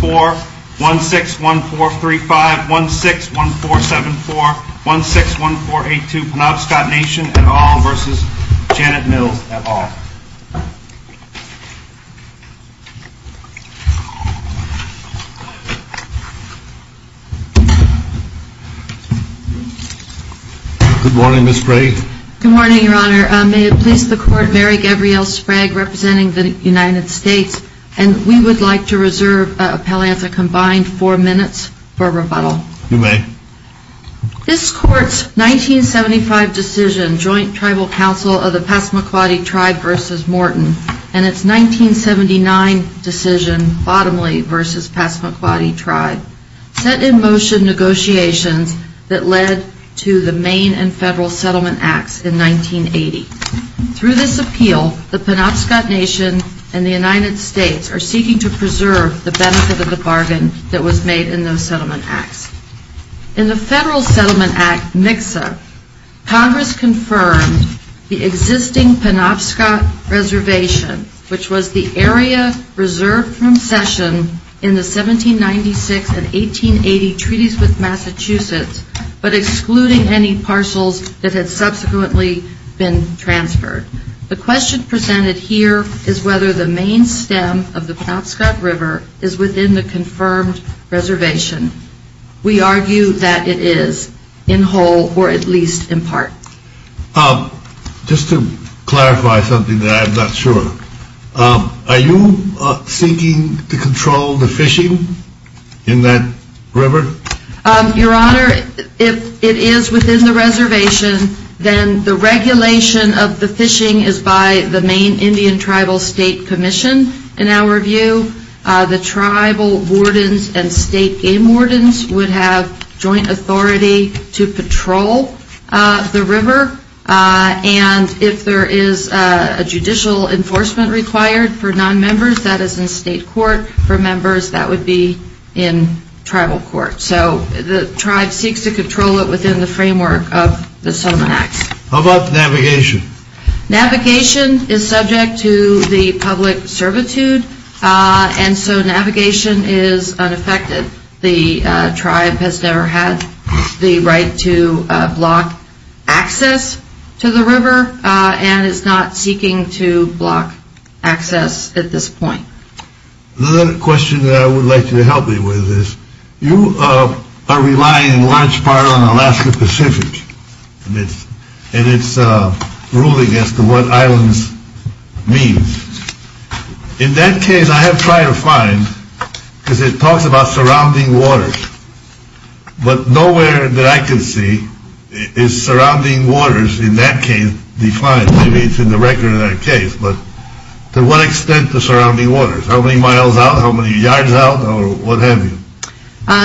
Good morning, Your Honor. May it please the Court, Mary Gabrielle Sprague representing the United States, and we would like to reserve Appellants a combined four minutes for rebuttal. You may. This Court's 1975 decision, Joint Tribal Council of the Passamaquoddy Tribe v. Morton, and its 1979 decision, Bottomley v. Passamaquoddy Tribe, set in motion negotiations that led to the Maine and Federal Settlement Acts in 1980. Through this appeal, the Penobscot Nation and the United States are seeking to preserve the benefit of the bargain that was made in those Settlement Acts. In the Federal Settlement Act, Mixa, Congress confirmed the existing Penobscot Reservation, which was the area reserved from session in the 1796 and 1880 Treaties with Massachusetts, but excluding any parcels that had subsequently been transferred. The question presented here is whether the Maine stem of the Penobscot River is within the confirmed reservation. We argue that it is, in whole or at least in part. Just to clarify something that I'm not sure, are you seeking to control the fishing in that river? Your Honor, if it is within the reservation, then the regulation of the fishing is by the Maine Indian Tribal State Commission, in our view. The tribal wardens and state game wardens would have joint authority to patrol the river. And if there is a judicial enforcement required for nonmembers, that is in state court. For So the tribe seeks to control it within the framework of the Settlement Act. How about navigation? Navigation is subject to the public servitude, and so navigation is unaffected. The tribe has never had the right to block access to the river, and is not seeking to block access at this point. Another question that I would like you to help me with is, you are relying in large part on Alaska Pacific, and it's ruling as to what islands means. In that case, I have tried to find, because it talks about surrounding waters. But nowhere that I can see is surrounding waters in that case defined, maybe it's in the record in that case, but to what extent the surrounding waters, how many miles out, how many yards out, or what have you?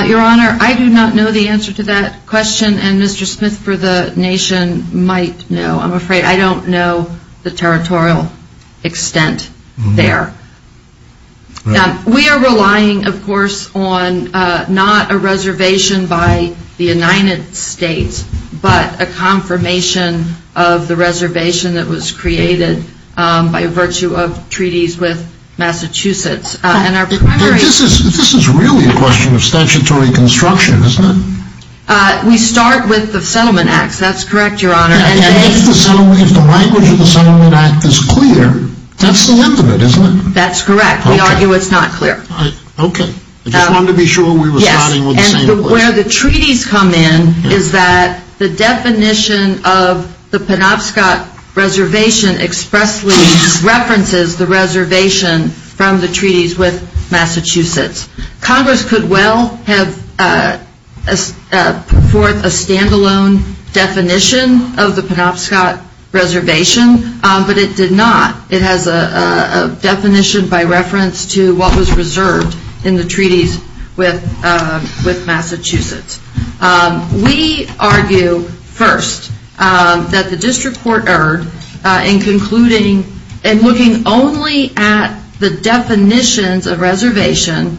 Your Honor, I do not know the answer to that question, and Mr. Smith for the nation might know. I'm afraid I don't know the territorial extent there. We are relying, of course, on not a reservation by the United States, but a confirmation of the reservation that was created by virtue of treaties with Massachusetts. This is really a question of statutory construction, isn't it? We start with the Settlement Act, that's correct, Your Honor. And if the language of the Settlement Act is clear, that's the end of it, isn't it? That's correct. We argue it's not clear. Okay. I just wanted to be sure we were starting And where the treaties come in is that the definition of the Penobscot reservation expressly references the reservation from the treaties with Massachusetts. Congress could well have put forth a standalone definition of the Penobscot reservation, but it did not. It has a definition by reference to what was reserved in the treaties with Massachusetts. We argue first that the district court erred in concluding and looking only at the definitions of reservation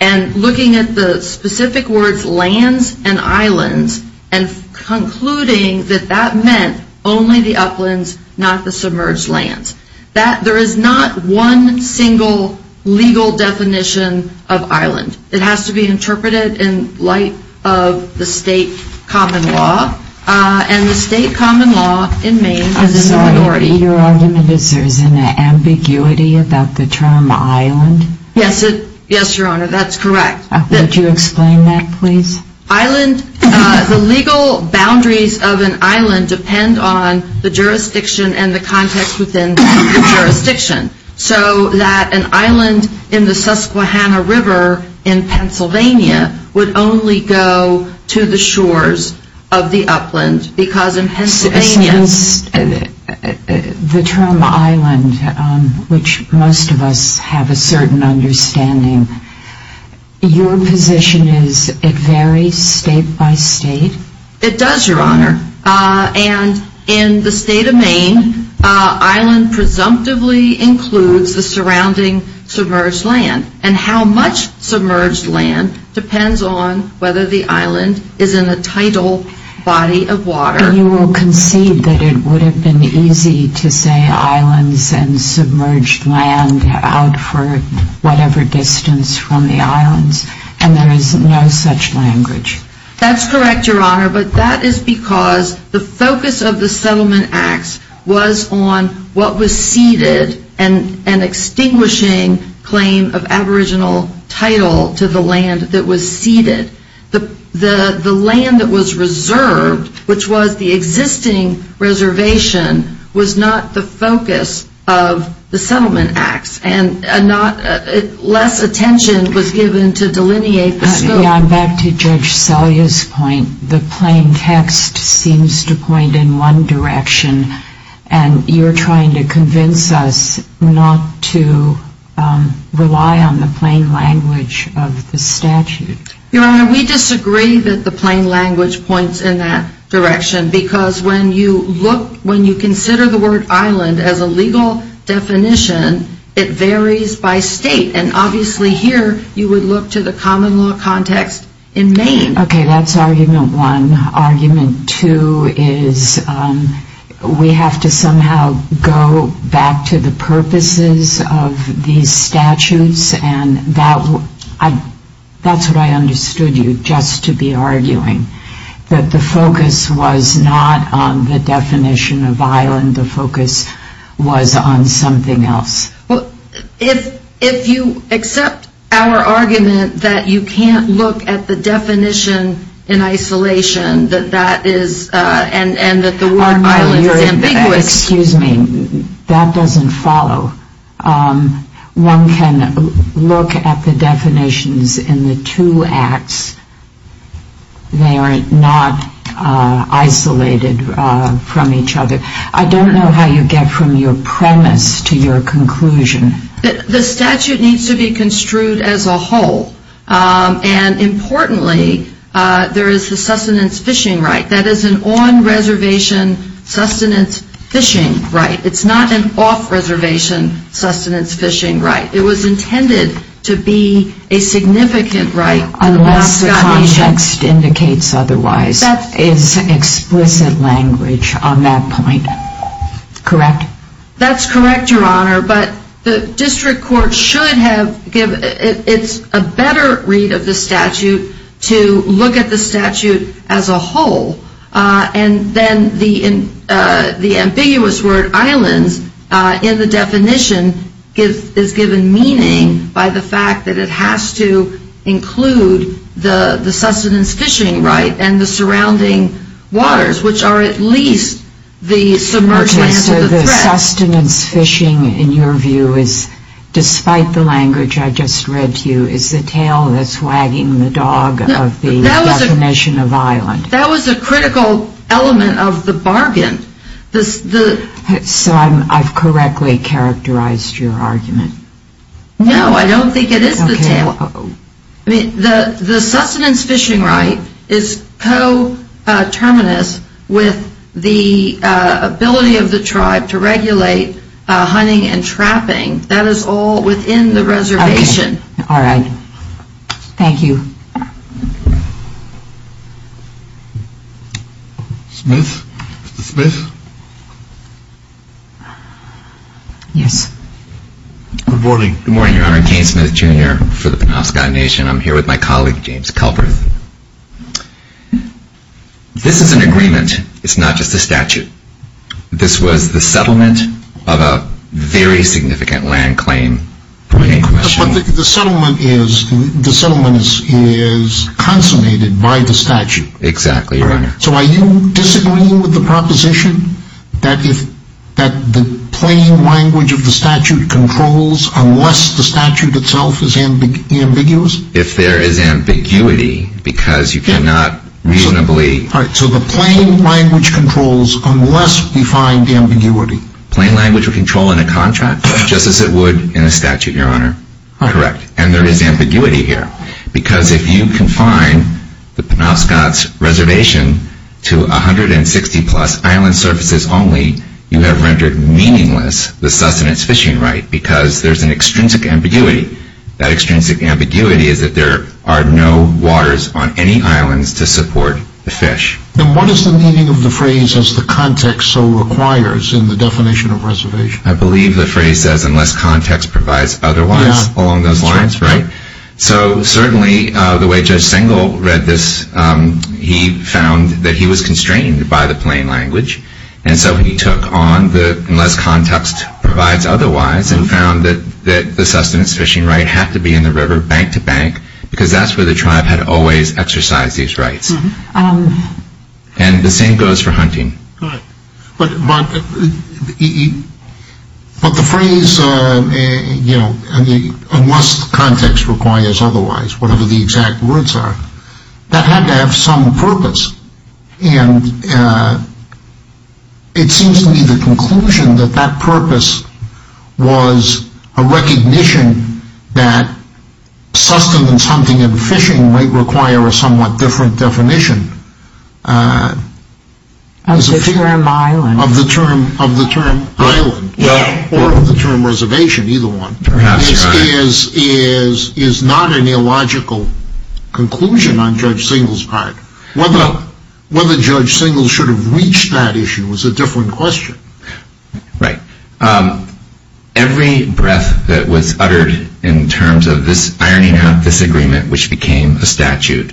and looking at the specific words lands and islands and concluding that that meant only the uplands, not the submerged lands. There is not one single legal definition of island. It has to be interpreted in light of the state common law, and the state common law in Maine is an authority. Your argument is there is an ambiguity about the term island? Yes, Your Honor, that's correct. Would you explain that, please? Island, the legal boundaries of an island depend on the jurisdiction and the context within the jurisdiction. So that an island in the Susquehanna River in Pennsylvania would only go to the shores of the upland because in Pennsylvania The term island, which most of us have a certain understanding, your position is it varies state by state? It does, Your Honor, and in the state of Maine, island presumptively includes the surrounding submerged land, and how much submerged land depends on whether the island is in a tidal body of water. So you will concede that it would have been easy to say islands and submerged land out for whatever distance from the islands, and there is no such language? That's correct, Your Honor, but that is because the focus of the Settlement Acts was on what was ceded, an extinguishing claim of aboriginal title to the land that was ceded. The land that was reserved, which was the existing reservation, was not the focus of the Settlement Acts, and less attention was given to delineate the scope. I'm back to Judge Selye's point. The plain text seems to point in one direction, and you're trying to convince us not to rely on the plain language of the statute. Your Honor, we disagree that the plain language points in that direction, because when you consider the word island as a legal definition, it varies by state, and obviously here you would look to the common law context in Maine. Okay, that's argument one. Argument two is we have to somehow go back to the purposes of these statutes, and that's what I understood you just to be arguing, that the focus was not on the definition of island, the focus was on something else. If you accept our argument that you can't look at the definition in isolation, and that one can look at the definitions in the two acts, they are not isolated from each other, I don't know how you get from your premise to your conclusion. The statute needs to be construed as a whole, and importantly, there is the sustenance fishing right. It's not an off-reservation sustenance fishing right. It was intended to be a significant right. Unless the context indicates otherwise. It's explicit language on that point. Correct? That's correct, Your Honor, but the district court should have given, it's a better read of the statute, to look at the statute as a whole, and then the ambiguous word islands in the definition is given meaning by the fact that it has to include the sustenance fishing right, and the surrounding waters, which are at least the submerged lands of the threat. Okay, so the sustenance fishing in your view is, despite the language I just read to you, is the tail that's wagging the dog of the definition of island? That was a critical element of the bargain. So I've correctly characterized your argument? No, I don't think it is the tail. The sustenance fishing right is coterminous with the ability of the tribe to regulate hunting and trapping. That is all within the reservation. All right. Thank you. Smith? Mr. Smith? Yes. Good morning. Good morning, Your Honor. Kane Smith, Jr. for the Penobscot Nation. I'm here with my colleague, James Kelberth. This is an agreement. It's not just a statute. This was the settlement of a very significant land claim. But the settlement is consummated by the statute. Exactly, Your Honor. So are you disagreeing with the proposition that the plain language of the statute controls unless the statute itself is ambiguous? If there is ambiguity, because you cannot reasonably All right. So the plain language controls unless we find ambiguity. Plain language would control in a contract, just as it would in a statute, Your Honor. Correct. And there is ambiguity here, because if you confine the Penobscot's reservation to 160 plus island surfaces only, you have rendered meaningless the sustenance fishing right, because there's an extrinsic ambiguity. That extrinsic ambiguity is that there are no waters on any islands to support the fish. Then what is the meaning of the phrase, as the context so requires in the definition of reservation? I believe the phrase says, unless context provides otherwise, along those lines, right? So certainly, the way Judge Sengle read this, he found that he was constrained by the plain language. And so he took on the, unless context provides otherwise, and found that the sustenance fishing right had to be in the river, bank to bank, because that's where the tribe had always exercised these rights. And the same goes for hunting. But the phrase, you know, unless context requires otherwise, whatever the exact words are, that had to have some purpose. And it seems to me the conclusion that that purpose was a mission of the term island, or of the term reservation, either one, is not an illogical conclusion on Judge Sengle's part. Whether Judge Sengle should have reached that issue was a different question. Right. Every breath that was uttered in terms of this ironing out this agreement, which contained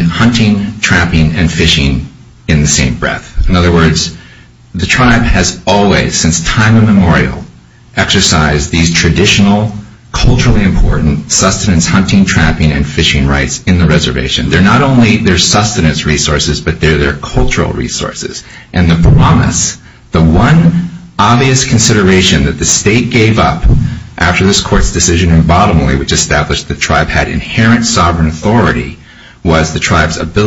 hunting, trapping, and fishing in the same breath. In other words, the tribe has always, since time immemorial, exercised these traditional, culturally important sustenance hunting, trapping, and fishing rights in the reservation. They're not only their sustenance resources, but they're their cultural resources. And the promise, the one obvious consideration that the state gave up after this court's decision in Bottomley, which established the tribe's ability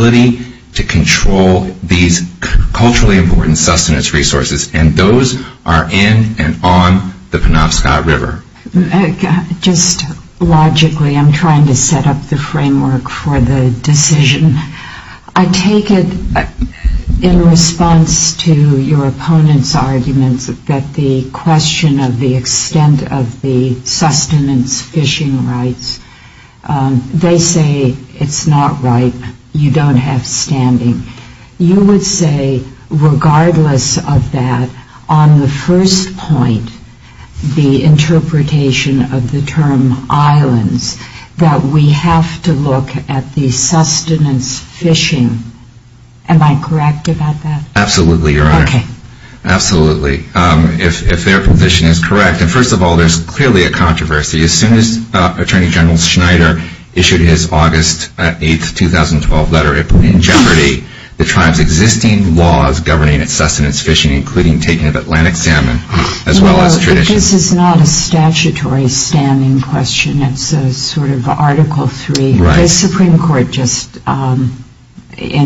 to control these culturally important sustenance resources. And those are in and on the Penobscot River. Just logically, I'm trying to set up the framework for the decision. I take it in response to your opponent's arguments that the question of the extent of the sustenance fishing rights, they say it's not right. You don't have standing. You would say, regardless of that, on the first point, the interpretation of the term islands, that we have to look at the sustenance fishing. Am I correct about that? Absolutely, Your Honor. Okay. Absolutely. If their position is correct. And first of all, there's clearly a controversy. As soon as Attorney General Schneider issued his August 8, 2012 letter in jeopardy, the tribe's existing laws governing its sustenance fishing, including taking of Atlantic salmon, as well as tradition. Well, this is not a statutory standing question. It's a sort of Article III. Right. The Supreme Court just, in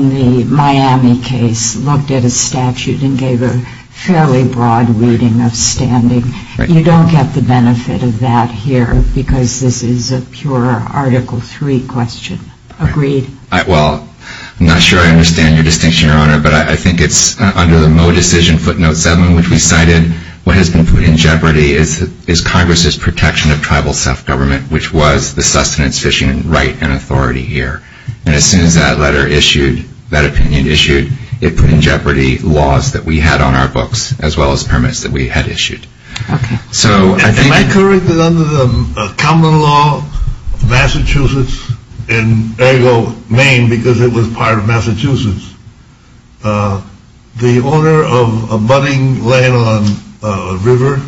the Miami case, looked at a statute and gave a fairly broad reading of standing. You don't get the benefit of that here, because this is a pure Article III question. Agreed? Well, I'm not sure I understand your distinction, Your Honor, but I think it's under the Mo decision footnote 7, which we cited, what has been put in jeopardy is Congress's protection of tribal self-government, which was the sustenance fishing right and authority here. And as soon as that letter issued, that opinion issued, it put in jeopardy laws that we had on our sustenance that we had issued. Okay. So I think Am I correct that under the common law, Massachusetts, and there you go, Maine, because it was part of Massachusetts, the owner of a budding land on a river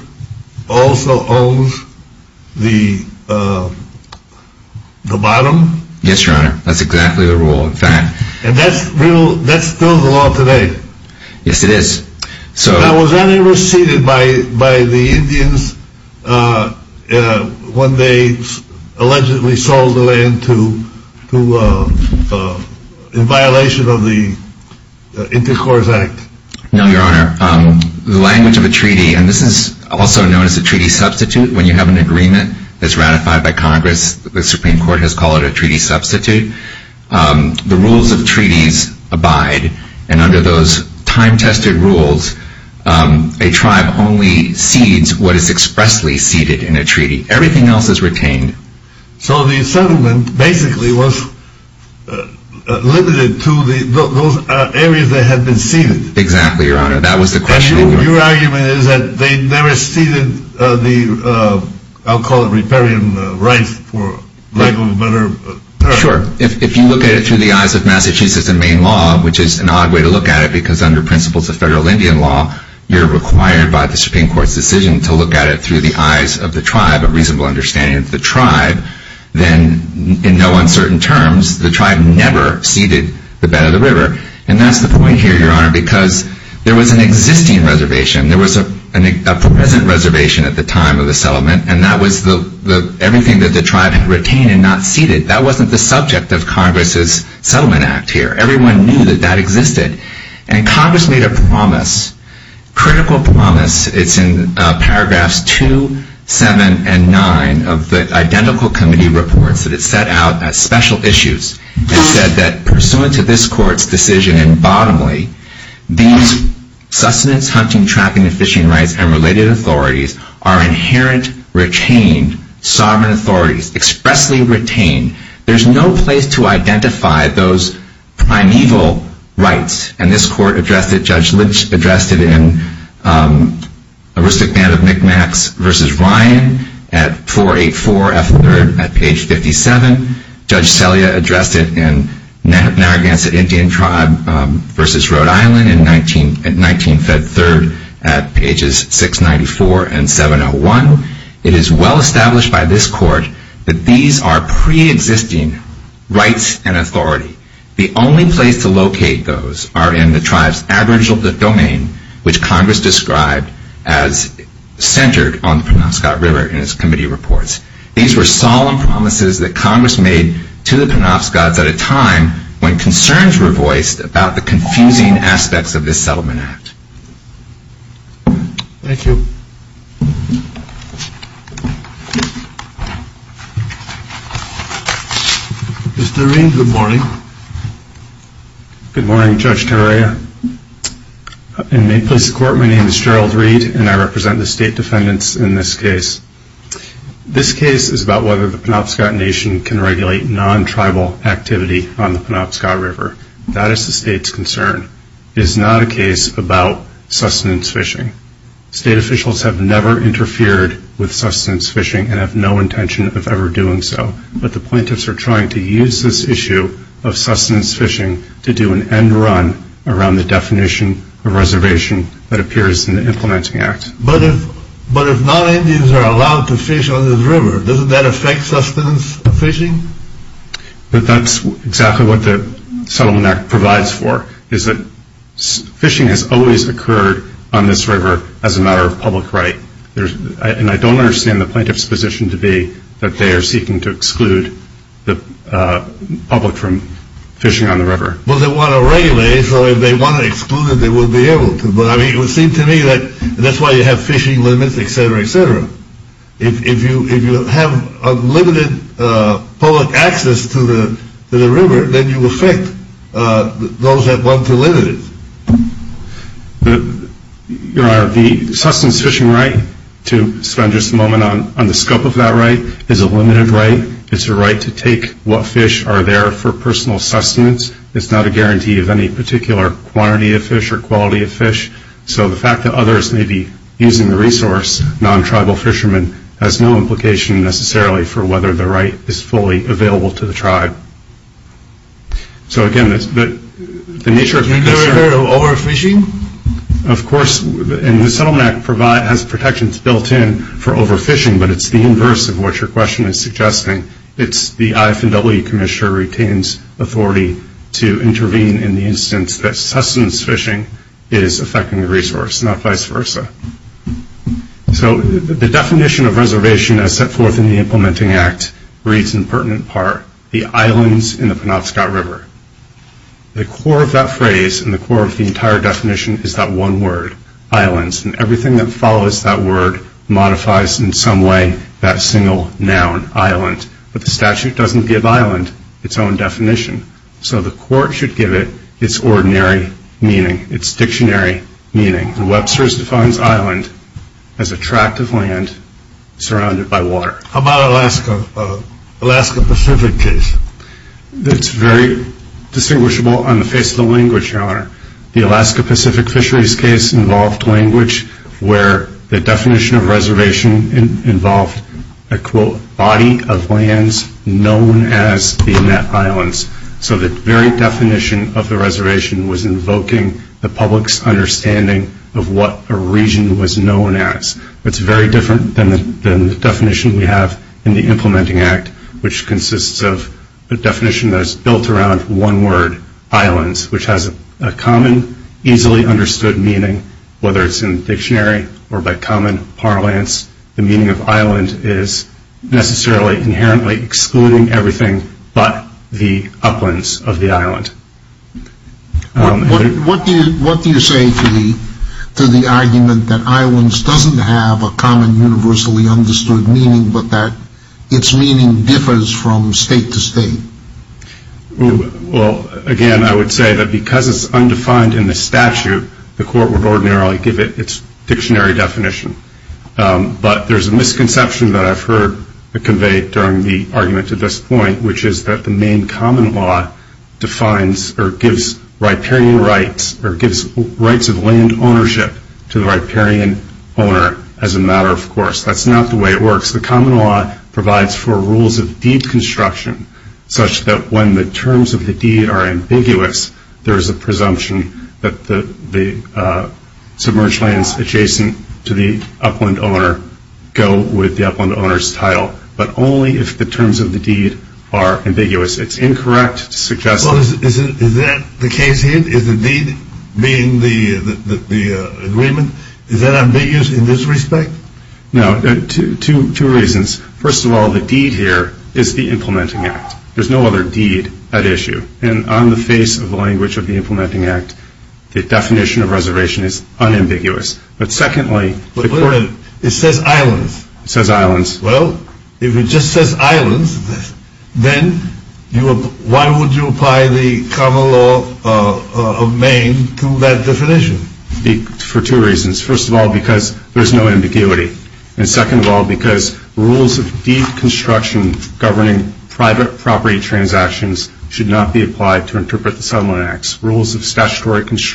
also owns the bottom? Yes, Your Honor. That's exactly the rule, in fact. And that's still the law today? Yes, it is. Now, was that ever ceded by the Indians when they allegedly sold the land to, in violation of the Intercourse Act? No, Your Honor. The language of a treaty, and this is also known as a treaty substitute, when you have an agreement that's ratified by Congress, the Supreme Court has called it a treaty substitute. The rules of treaties abide, and under those time-tested rules, a tribe only cedes what is expressly ceded in a treaty. Everything else is retained. So the settlement basically was limited to those areas that had been ceded? Exactly, Your Honor. That was the question. Your argument is that they never ceded the, I'll call it riparian rights for lack of a better term. Sure. If you look at it through the eyes of Massachusetts and Maine law, which is an odd way to look at it because under principles of federal Indian law, you're required by the Supreme Court's decision to look at it through the eyes of the tribe, a reasonable understanding of the tribe, then in no uncertain terms, the tribe never ceded the bed of the reservation. There was a present reservation at the time of the settlement, and that was everything that the tribe had retained and not ceded. That wasn't the subject of Congress's settlement act here. Everyone knew that that existed. And Congress made a promise, critical promise. It's in paragraphs 2, 7, and 9 of the Identical Committee Reports that it set out as special issues. It said that pursuant to this court's decision and bottomly, these sustenance, hunting, trapping, and fishing rights and related authorities are inherent, retained, sovereign authorities, expressly retained. There's no place to identify those primeval rights. And this court addressed it. Judge Lynch addressed it in Aristocrat of Mi'kmaqs v. Ryan at 484 F. 3rd at page 57. Judge Selya addressed it in Narragansett Indian Tribe v. Rhode Island at 19 F. 3rd at pages 694 and 701. It is well established by this court that these are preexisting rights and authority. The only place to locate those are in the tribe's aboriginal domain, which Congress described as centered on the Penobscot River in its committee reports. These were solemn promises that Congress made to the Penobscot Tribes and the tribes were voiced about the confusing aspects of this settlement act. Thank you. Mr. Reed, good morning. Good morning, Judge Tarrea. In Mayplace Court, my name is Gerald Reed and I represent the state defendants in this case. This case is about whether the Penobscot Nation can regulate non-tribal activity on the Penobscot River. That is the state's concern. It is not a case about sustenance fishing. State officials have never interfered with sustenance fishing and have no intention of ever doing so. But the plaintiffs are trying to use this issue of sustenance fishing to do an end run around the definition of reservation that appears in the implementing act. But if non-Indians are allowed to fish on this river, doesn't that affect sustenance fishing? That's exactly what the settlement act provides for. Fishing has always occurred on this river as a matter of public right. I don't understand the plaintiff's position to be that they are seeking to exclude the public from fishing on the river. Well, they want to regulate, so if they want to exclude it, they will be able to. It would have fishing limits, etc., etc. If you have unlimited public access to the river, then you affect those that want to limit it. The sustenance fishing right, to spend just a moment on the scope of that right, is a limited right. It's a right to take what fish are there for personal sustenance. It's not a guarantee of any particular quantity of fish or quality of fish. So the fact that others may be using the resource, non-tribal fishermen, has no implication necessarily for whether the right is fully available to the tribe. So again, the nature of the question... Can you go ahead with overfishing? Of course, and the settlement act has protections built in for overfishing, but it's the inverse of what your question is suggesting. It's the IFW commissioner retains authority to So the definition of reservation as set forth in the implementing act reads in pertinent part, the islands in the Penobscot River. The core of that phrase and the core of the entire definition is that one word, islands, and everything that follows that word modifies in some way that single noun, island. But the statute doesn't give island its own definition. So the court should give it its ordinary meaning, its dictionary meaning. And Webster's defines island as a tract of land surrounded by water. How about Alaska, Alaska Pacific case? It's very distinguishable on the face of the language, your honor. The Alaska Pacific fisheries case involved language where the definition of reservation involved a quote, body of lands known as the Inet Islands. So the very definition of the reservation was invoking the public's understanding of what a region was known as. It's very different than the definition we have in the implementing act, which consists of a definition that is built around one word, islands, which has a common, easily understood meaning, whether it's in dictionary or by excluding everything but the uplands of the island. What do you say to the argument that islands doesn't have a common, universally understood meaning, but that its meaning differs from state to state? Well, again, I would say that because it's undefined in the statute, the court would ordinarily give it its dictionary definition. But there's a misconception that I've heard conveyed during the argument at this point, which is that the main common law defines or gives riparian rights or gives rights of land ownership to the riparian owner as a matter of course. That's not the way it works. The common law provides for rules of deed construction such that when the terms of the deed are ambiguous, there's a presumption that the submerged lands adjacent to the upland owner go with the upland owner's title. But only if the terms of the deed are ambiguous. It's incorrect to suggest that... Well, is that the case here? Is the deed being the agreement? Is that ambiguous in this respect? No. Two reasons. First of all, the deed here is the implementing act. There's no other language of the implementing act. The definition of reservation is unambiguous. But secondly... But wait a minute. It says islands. It says islands. Well, if it just says islands, then why would you apply the common law of Maine to that definition? For two reasons. First of all, because there's no ambiguity. And second of all, because rules of statutory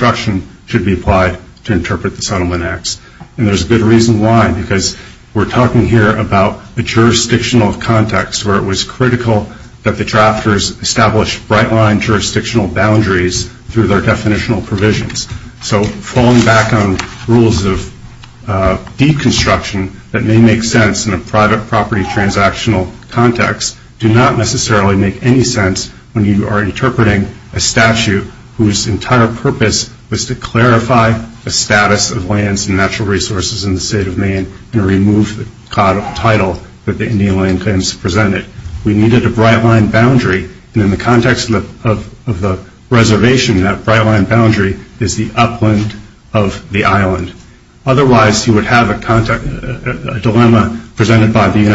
construction should be applied to interpret the settlement acts. And there's a good reason why. Because we're talking here about a jurisdictional context where it was critical that the drafters establish bright line jurisdictional boundaries through their definitional provisions. So falling back on rules of deed construction that may make sense in a private property transactional context do not necessarily make any sense when you are interpreting a statute whose entire purpose was to clarify the status of lands and natural resources in the state of Maine and remove the title that the Indian Land Claims presented. We needed a bright line boundary. And in the context of the reservation, that bright line boundary is the upland of the island. Otherwise, you would have a dilemma presented by the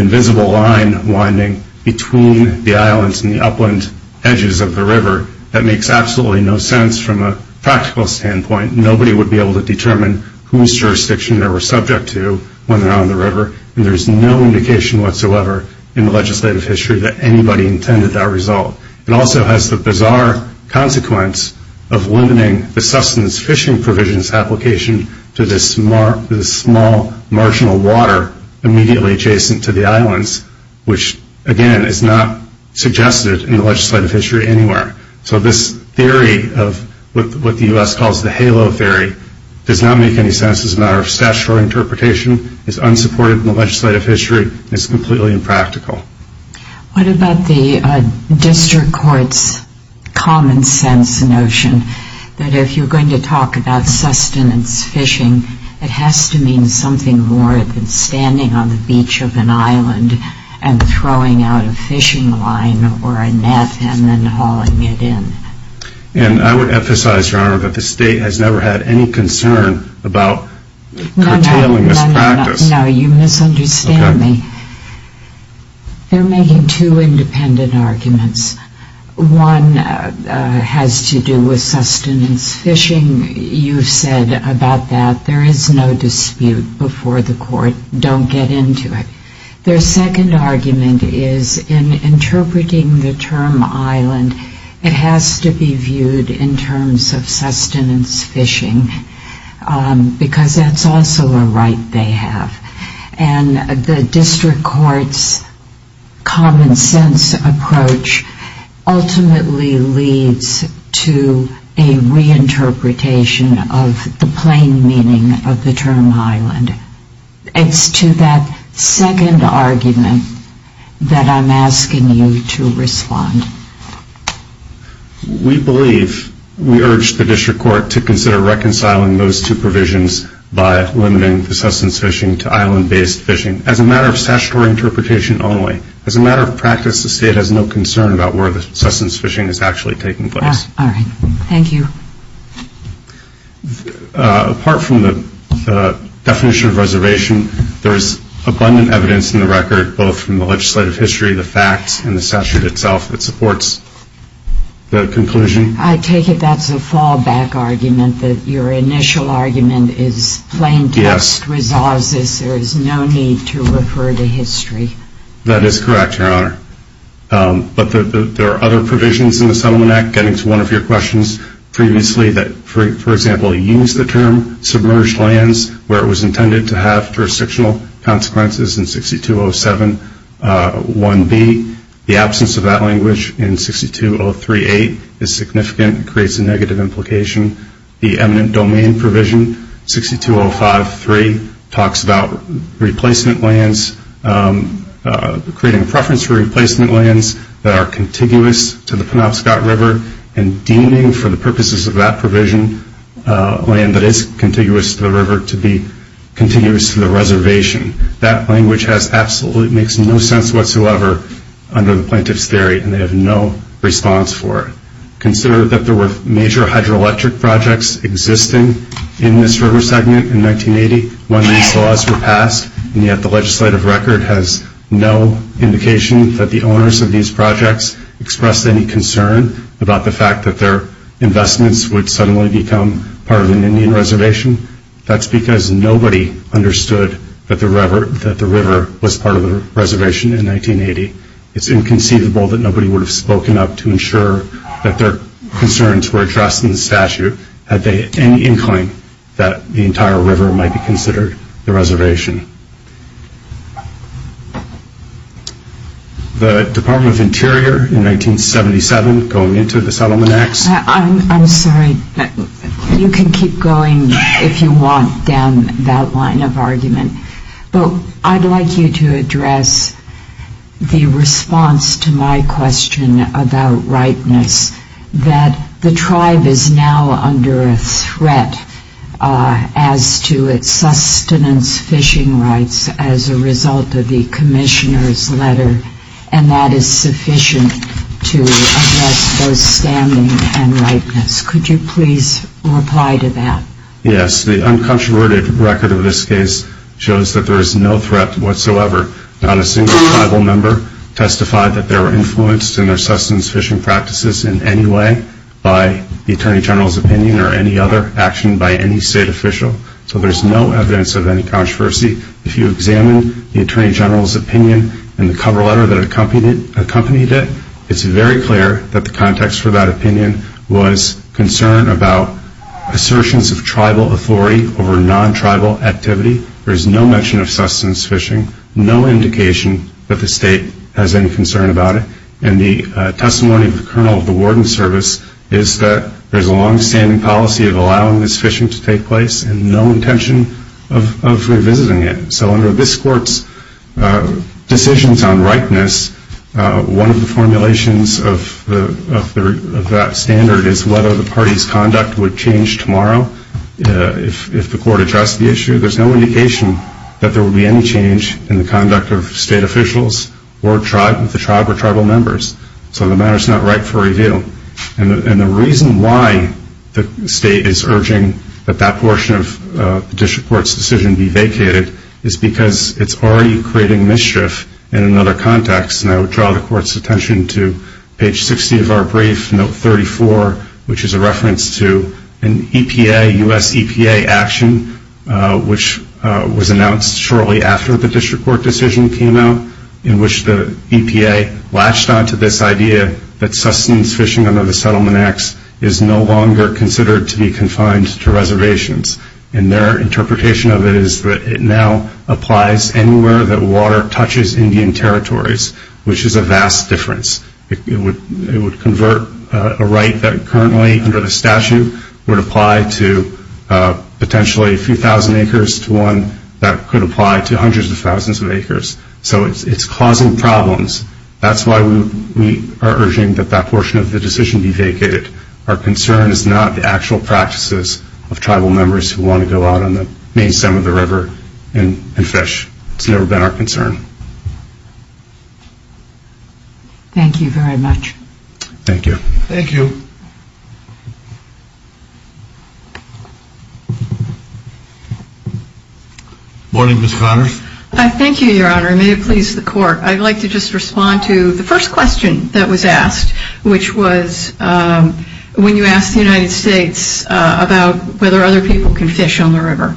invisible line winding between the islands and the upland edges of the river that makes absolutely no sense from a practical standpoint. Nobody would be able to determine whose jurisdiction they were subject to when they're on the river. And there's no indication whatsoever in the legislative history that anybody intended that result. It also has the bizarre consequence of limiting the sustenance fishing provisions application to this small marginal water immediately adjacent to the islands, which, again, is not suggested in the legislative history anywhere. So this theory of what the U.S. calls the halo theory does not make any sense as a matter of statutory interpretation. It's unsupported in the legislative history. It's completely impractical. What about the district court's common sense notion that if you're going to talk about sustenance fishing, it has to mean something more than standing on the beach of an island and throwing out a fishing line or a net and then hauling it in? And I would emphasize, Your Honor, that the state has never had any concern about curtailing this practice. No, no, no. You misunderstand me. They're making two independent arguments. One has to do with sustenance fishing. You said about that there is no dispute before the court. Don't get into it. Their second argument is in interpreting the term island, it has to be viewed in terms of sustenance fishing because that's also a right they have. And the district court's common sense approach ultimately leads to a reinterpretation of the plain meaning of the term island. It's to that second argument that I'm asking you to respond. We believe, we urge the district court to consider reconciling those two provisions by limiting the sustenance fishing to island-based fishing as a matter of statutory interpretation only. As a matter of practice, the state has no concern about where the sustenance fishing is actually taking place. All right. Thank you. Apart from the definition of reservation, there is abundant evidence in the record, both from the legislative history, the facts, and the statute itself that supports the conclusion. I take it that's a fallback argument, that your initial argument is plain text resolves this. There is no need to refer to history. That is correct, Your Honor. But there are other provisions in the Settlement Act, getting to one of your questions previously, that, for example, use the term submerged lands where it was intended to have jurisdictional consequences in 6207.1b. The absence of that language in 6203.8 is significant. It creates a negative implication. The eminent domain provision 6205.3 talks about replacement lands, creating a preference for replacement lands that are contiguous to the Penobscot River, and deeming, for the purposes of that provision, land that is contiguous to the river to be contiguous to the reservation. That language absolutely makes no sense whatsoever under the plaintiff's theory, and they have no response for it. Consider that there were major hydroelectric projects existing in this river segment in 1980 when these laws were passed, and yet the legislative record has no indication that the owners of these projects expressed any concern about the fact that their investments would suddenly become part of an Indian reservation. That's because nobody understood that the river was part of the reservation in 1980. It's inconceivable that nobody would have made sure that their concerns were addressed in the statute had they any inclination that the entire river might be considered the reservation. The Department of Interior, in 1977, going into the Settlement Acts... I'm sorry, you can keep going if you want down that line of argument, but I'd like you to address the response to my question about ripeness, that the tribe is now under a threat as to its sustenance fishing rights as a result of the Commissioner's letter, and that is sufficient to address those standing and ripeness. Could you please reply to that? Yes, the uncontroverted record of this case shows that there is no threat whatsoever. Not a single tribal member testified that they were influenced in their sustenance fishing practices in any way by the Attorney General's opinion or any other action by any state official, so there's no evidence of any controversy. If you examine the Attorney General's opinion and the cover letter that accompanied it, it's very clear that the context for that is tribal authority over non-tribal activity. There's no mention of sustenance fishing, no indication that the state has any concern about it, and the testimony of the Colonel of the Warden's Service is that there's a long-standing policy of allowing this fishing to take place and no intention of revisiting it. So under this Court's decisions on ripeness, one of the formulations of that standard is whether the party's conduct would change tomorrow, and if the Court addressed the issue, there's no indication that there would be any change in the conduct of state officials or the tribe or tribal members, so the matter is not ripe for review. And the reason why the state is urging that that portion of the District Court's decision be vacated is because it's already creating mischief in another context, and I would draw the Court's attention to page 60 of our brief, note 34, which is a reference to an EPA, U.S. EPA action, which was announced shortly after the District Court decision came out, in which the EPA latched onto this idea that sustenance fishing under the Settlement Acts is no longer considered to be confined to reservations, and their interpretation of it is that it now applies anywhere that water touches Indian territories, which is a vast difference. It would convert a right that currently under the statute would apply to potentially a few thousand acres to one that could apply to hundreds of thousands of acres. So it's causing problems. That's why we are urging that that portion of the decision be vacated. Our concern is not the actual practices of tribal members who want to go out on the main stem of the river and fish. It's never been our concern. Thank you very much. Thank you. Thank you. Good morning, Ms. Connors. Thank you, Your Honor, and may it please the Court. I'd like to just respond to the first question that was asked, which was when you asked the United States about whether other people can fish on the river,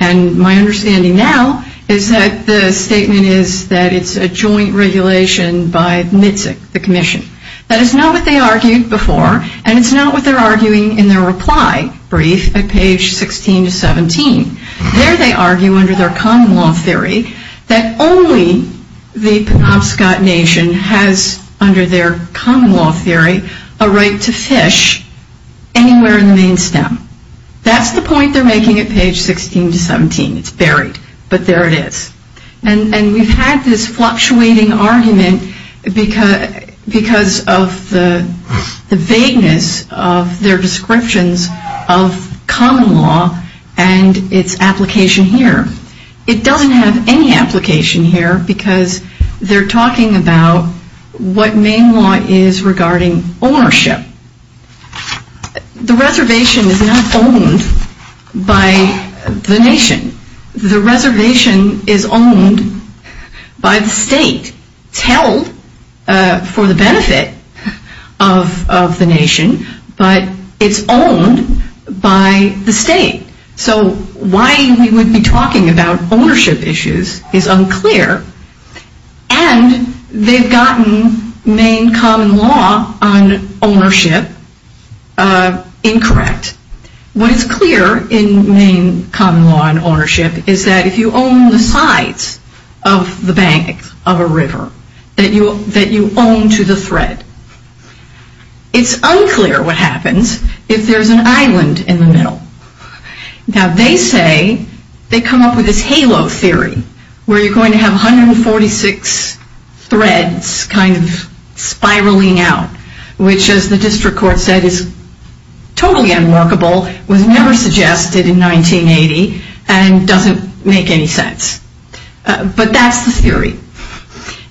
and my understanding now is that the statement is that it's a joint regulation by MITSC, the Commission. That is not what they argued before, and it's not what they're arguing in their reply brief at page 16 to 17. There they argue under their common law theory that only the Penobscot Nation has, under their common law theory, a right to fish anywhere in the main stem. That's the point they're making at page 16 to 17. It's buried, but there it is. And we've had this fluctuating argument because of the vagueness of their descriptions of common law and its application here. It doesn't have any application here because they're talking about what main law is regarding ownership. The reservation is not owned by the nation. The reservation is owned by the state. It's held for the benefit of the nation, but it's owned by the state. So why we would be talking about ownership issues is unclear, and they've gotten main common law on ownership, which is incorrect. What is clear in main common law on ownership is that if you own the sides of the banks of a river, that you own to the thread. It's unclear what happens if there's an island in the middle. Now they say, they come up with this halo theory, where you're having 146 threads kind of spiraling out, which as the district court said is totally unworkable, was never suggested in 1980, and doesn't make any sense. But that's the theory.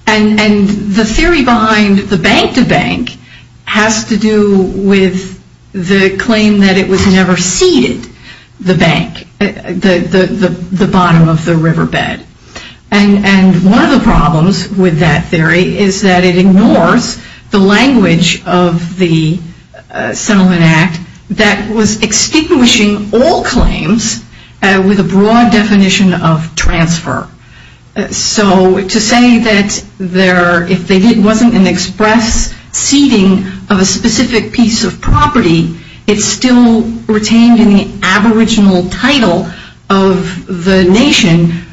And the theory behind the bank-to-bank has to do with the claim that it was never ceded the bank, the bottom of the riverbed. And one of the problems with that theory is that it ignores the language of the Settlement Act that was extinguishing all claims with a broad definition of transfer. So to say that if it wasn't an express ceding of a specific piece of property, it's still retained in the aboriginal title of the nation,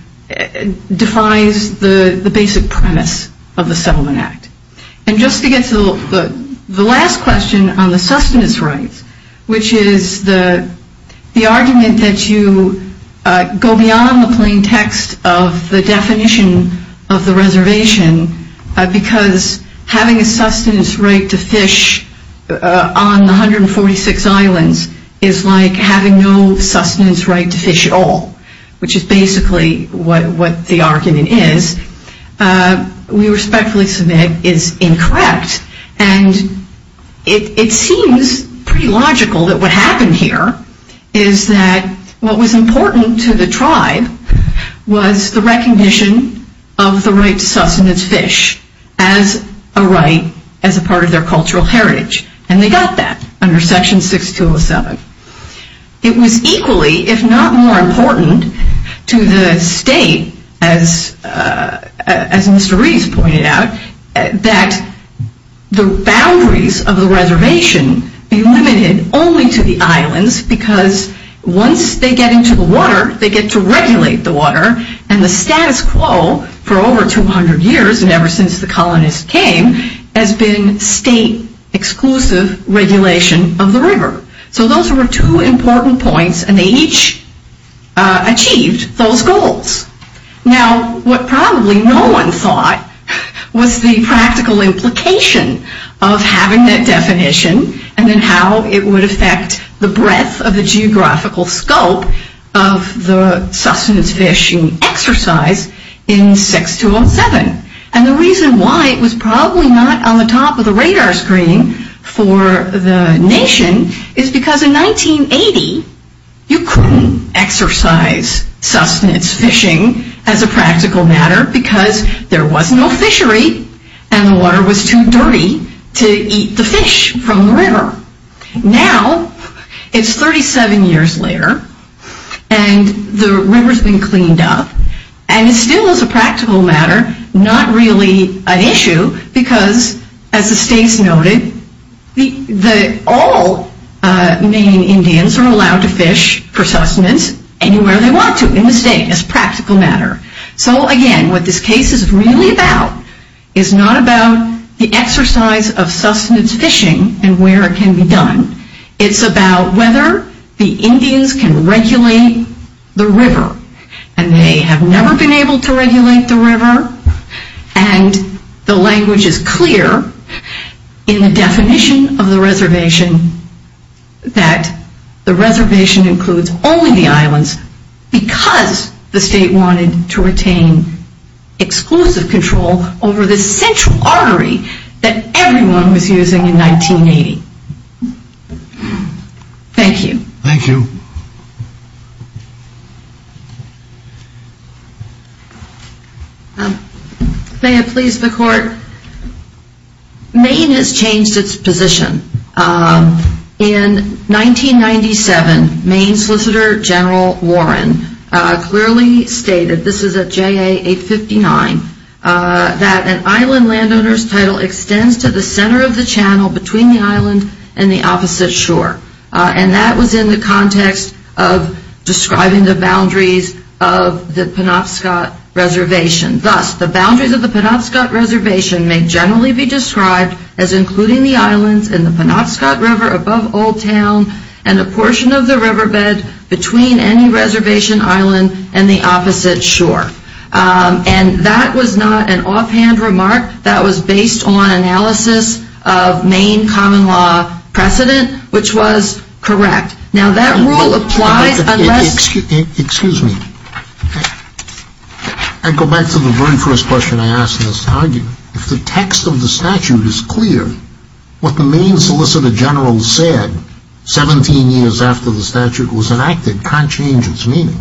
defies the basic premise of the Settlement Act. And just to get to the last question on the sustenance rights, which is the argument that you go beyond the plain text of the definition of having a sustenance right to fish on 146 islands is like having no sustenance right to fish at all, which is basically what the argument is, we respectfully submit is incorrect. And it seems pretty logical that what happened here is that what was important to the tribe was the recognition of the right to sustenance fish as a right as a part of their cultural heritage. And they got that under Section 6207. It was equally, if not more important to the state, as Mr. Reeves pointed out, that the boundaries of the reservation be limited only to the islands because once they get into the water, they get to regulate the water, and the status quo for over 200 years and ever since the colonists came has been state-exclusive regulation of the river. So those were two important points, and they each achieved those goals. Now, what probably no one thought was the practical implication of having that definition and then how it would affect the breadth of the geographical scope of the sustenance fishing exercise in 6207. And the reason why it was probably not on the top of the radar screen for the nation is because in 1980, you couldn't exercise sustenance fishing as a practical matter because there was no fishery, and the water was too dirty to eat the fish from the river. Now, it's 37 years later, and the river's been cleaned up, and it still is a practical matter, not really an issue because, as the states noted, all Maine Indians are allowed to fish for sustenance anywhere they want to in the state as practical matter. So again, what this case is really about is not about the exercise of sustenance fishing and where it can be done. It's about whether the Indians can regulate the river, and they have never been able to regulate the river, and the language is clear in the definition of the reservation that the reservation includes only the islands because the state wanted to retain exclusive control over the central artery that everyone was using in 1980. Thank you. Thank you. May it please the court. Maine has changed its position. In 1997, Maine Solicitor General Warren clearly stated, this is at JA 859, that an island landowner's title extends to the center of the channel between the island and the opposite shore, and that was in the context of describing the boundaries of the Penobscot Reservation. Thus, the boundaries of the Penobscot Reservation may generally be described as including the islands in the Penobscot River above Old Town and a portion of the riverbed between any reservation island and the opposite shore, and that was not an offhand remark. That was based on analysis of Maine common law precedent, which was correct. Now that rule applies unless... Excuse me. I go back to the very first question I asked in this argument. If the text of the statute is clear, what the Maine Solicitor General said 17 years after the statute was enacted can't change its meaning.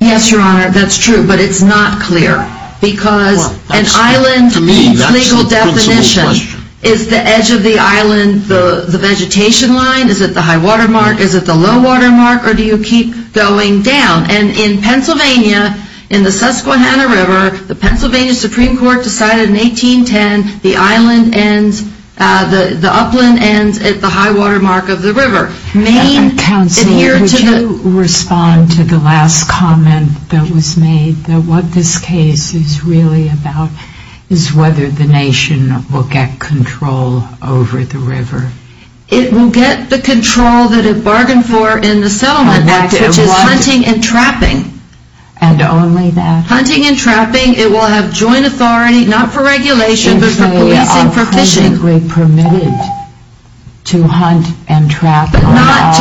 Yes, Your Honor, that's true, but it's not clear because an island's legal definition is the edge of the island, the vegetation line, is it the high water mark, is it the low water mark, or do you keep going down? And in Pennsylvania, in the Susquehanna River, the Pennsylvania Supreme Court decided in 1810, the island ends, the upland ends at the high water mark of the river. Counselor, would you respond to the last comment that was made, that what this case is really about is whether the nation will get control over the river? It will get the control that it bargained for in the Settlement Act, which is hunting and trapping. And only that? Hunting and trapping, it will have joint authority, not for regulation, but for policing, for fishing. But not to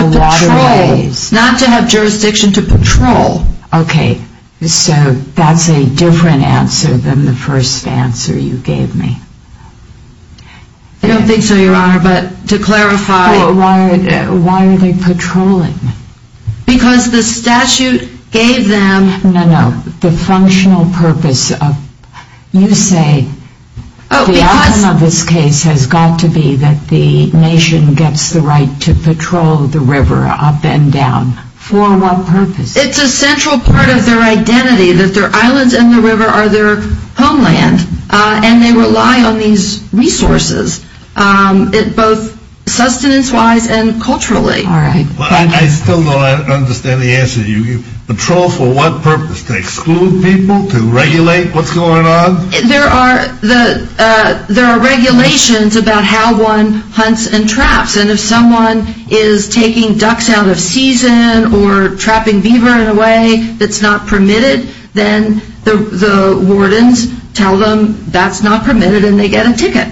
patrol, not to have jurisdiction to patrol. Okay, so that's a different answer than the first answer you gave me. I don't think so, Your Honor, but to clarify... Why are they patrolling? Because the statute gave them... No, no, the functional purpose of... You say the outcome of this case has got to be that the nation gets the right to patrol the river up and down. For what purpose? It's a central part of their identity, that their islands and the river are their homeland, and they rely on these resources, both sustenance-wise and culturally. All right. I still don't understand the answer. Patrol for what purpose? To exclude people? To regulate what's going on? There are regulations about how one hunts and traps, and if someone is taking ducks out of season or trapping beaver in a way that's not permitted, then the wardens tell them that's not permitted and they get a ticket.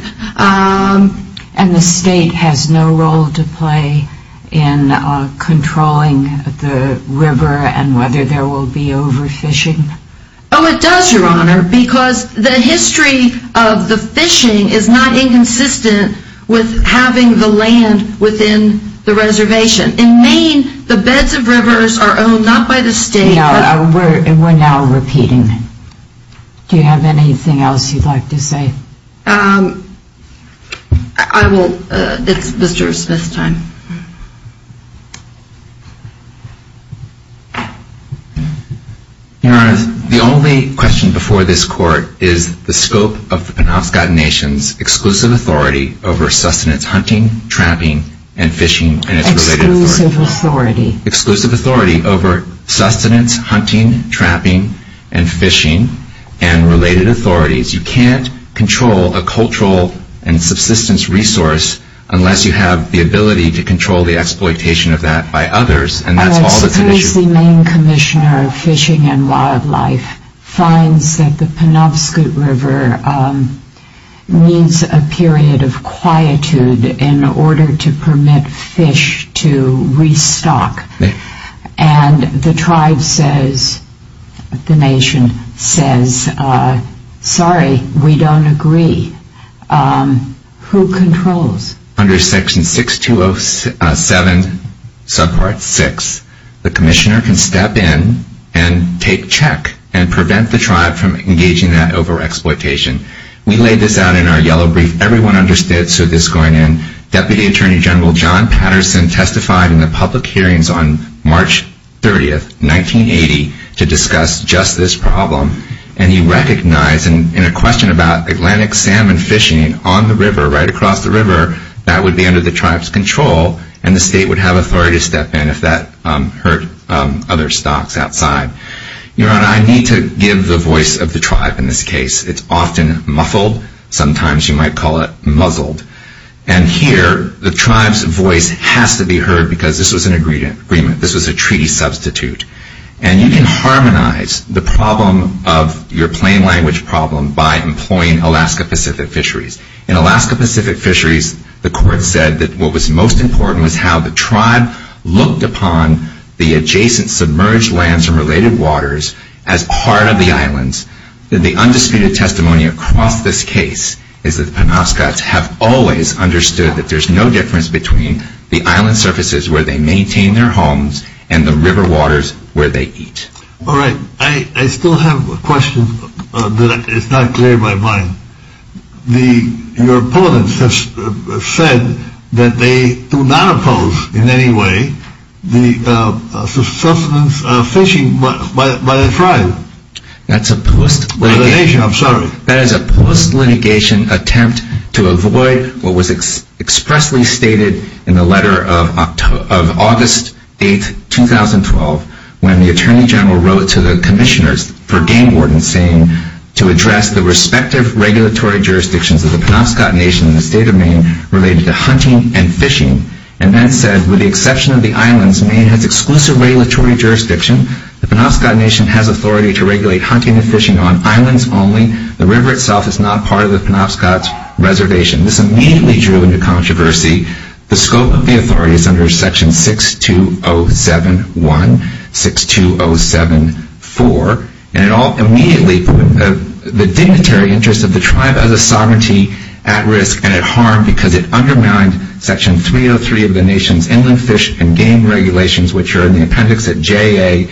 And the state has no role to play in controlling the river and whether there will be overfishing? Oh, it does, Your Honor, because the history of the fishing is not inconsistent with having the land within the reservation. In Maine, the beds of rivers are owned not by the state... We're now repeating. Do you have anything else you'd like to say? I will. It's Mr. Smith's time. Your Honor, the only question before this court is the scope of the Penobscot Nation's exclusive authority over sustenance hunting, trapping, and fishing and its related authorities. Exclusive authority. Exclusive authority over sustenance hunting, trapping, and fishing and related authorities. You can't control a cultural and subsistence resource unless you have the ability to control the exploitation of that by others. And that's all that's at issue. I suppose the Maine Commissioner of Fishing and Wildlife finds that the Penobscot River needs a period of quietude in order to permit fish to restock. And the tribe says, the nation says, sorry, we don't agree. Who controls? Under section 6207, subpart 6, the commissioner can step in and take check and prevent the tribe from engaging that over-exploitation. We laid this out in our yellow brief. Everyone understood, so this is going in. Deputy Attorney General John Patterson testified in the public hearings on March 30, 1980, to discuss just this problem and he recognized in a question about Atlantic salmon fishing on the river, right across the river, that would be under the tribe's control and the state would have authority to step in if that hurt other stocks outside. Your Honor, I need to give the voice of the tribe in this case. It's often muffled. Sometimes you might call it muzzled. And here, the tribe's voice has to be heard because this was an agreement. This was a treaty substitute. And you can harmonize the problem of your plain language problem by employing Alaska Pacific fisheries. In Alaska Pacific fisheries, the court said that what was most important was how the tribe looked upon the adjacent submerged lands and related waters as part of the islands. The undisputed testimony across this case is that the Penobscots have always understood that there's no difference between the island surfaces where they maintain their homes and the river waters where they eat. All right. I still have a question that is not clear in my mind. Your opponents have said that they do not oppose in any way the sustenance of fishing by the tribe. That is a post-litigation attempt to avoid what was expressly stated in the letter of August 8, 2012, when the Attorney General wrote to the commissioners for Game Warden saying to address the respective regulatory jurisdictions of the Penobscot Nation in the state of Maine related to hunting and fishing. And that said, with the exception of the islands, Maine has exclusive regulatory jurisdiction. The Penobscot Nation has authority to regulate hunting and fishing on islands only. The river itself is not part of the Penobscot Reservation. This immediately drew into controversy. The scope of the authority is under Section 6207-1, 6207-4. And it immediately put the dignitary interest of the tribe as a sovereignty at risk and at harm because it undermined Section 303 of the nation's inland fish and game regulations, which are in the appendix at JA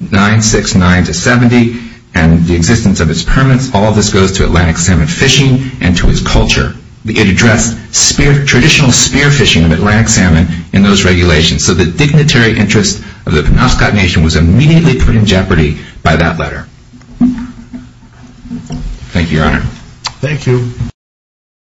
969-70 and the existence of its permits. All of this goes to Atlantic salmon fishing and to its culture. It addressed traditional spearfishing of Atlantic salmon in those regulations. So the dignitary interest of the Penobscot Nation was immediately put in jeopardy by that letter. Thank you, Your Honor. Thank you.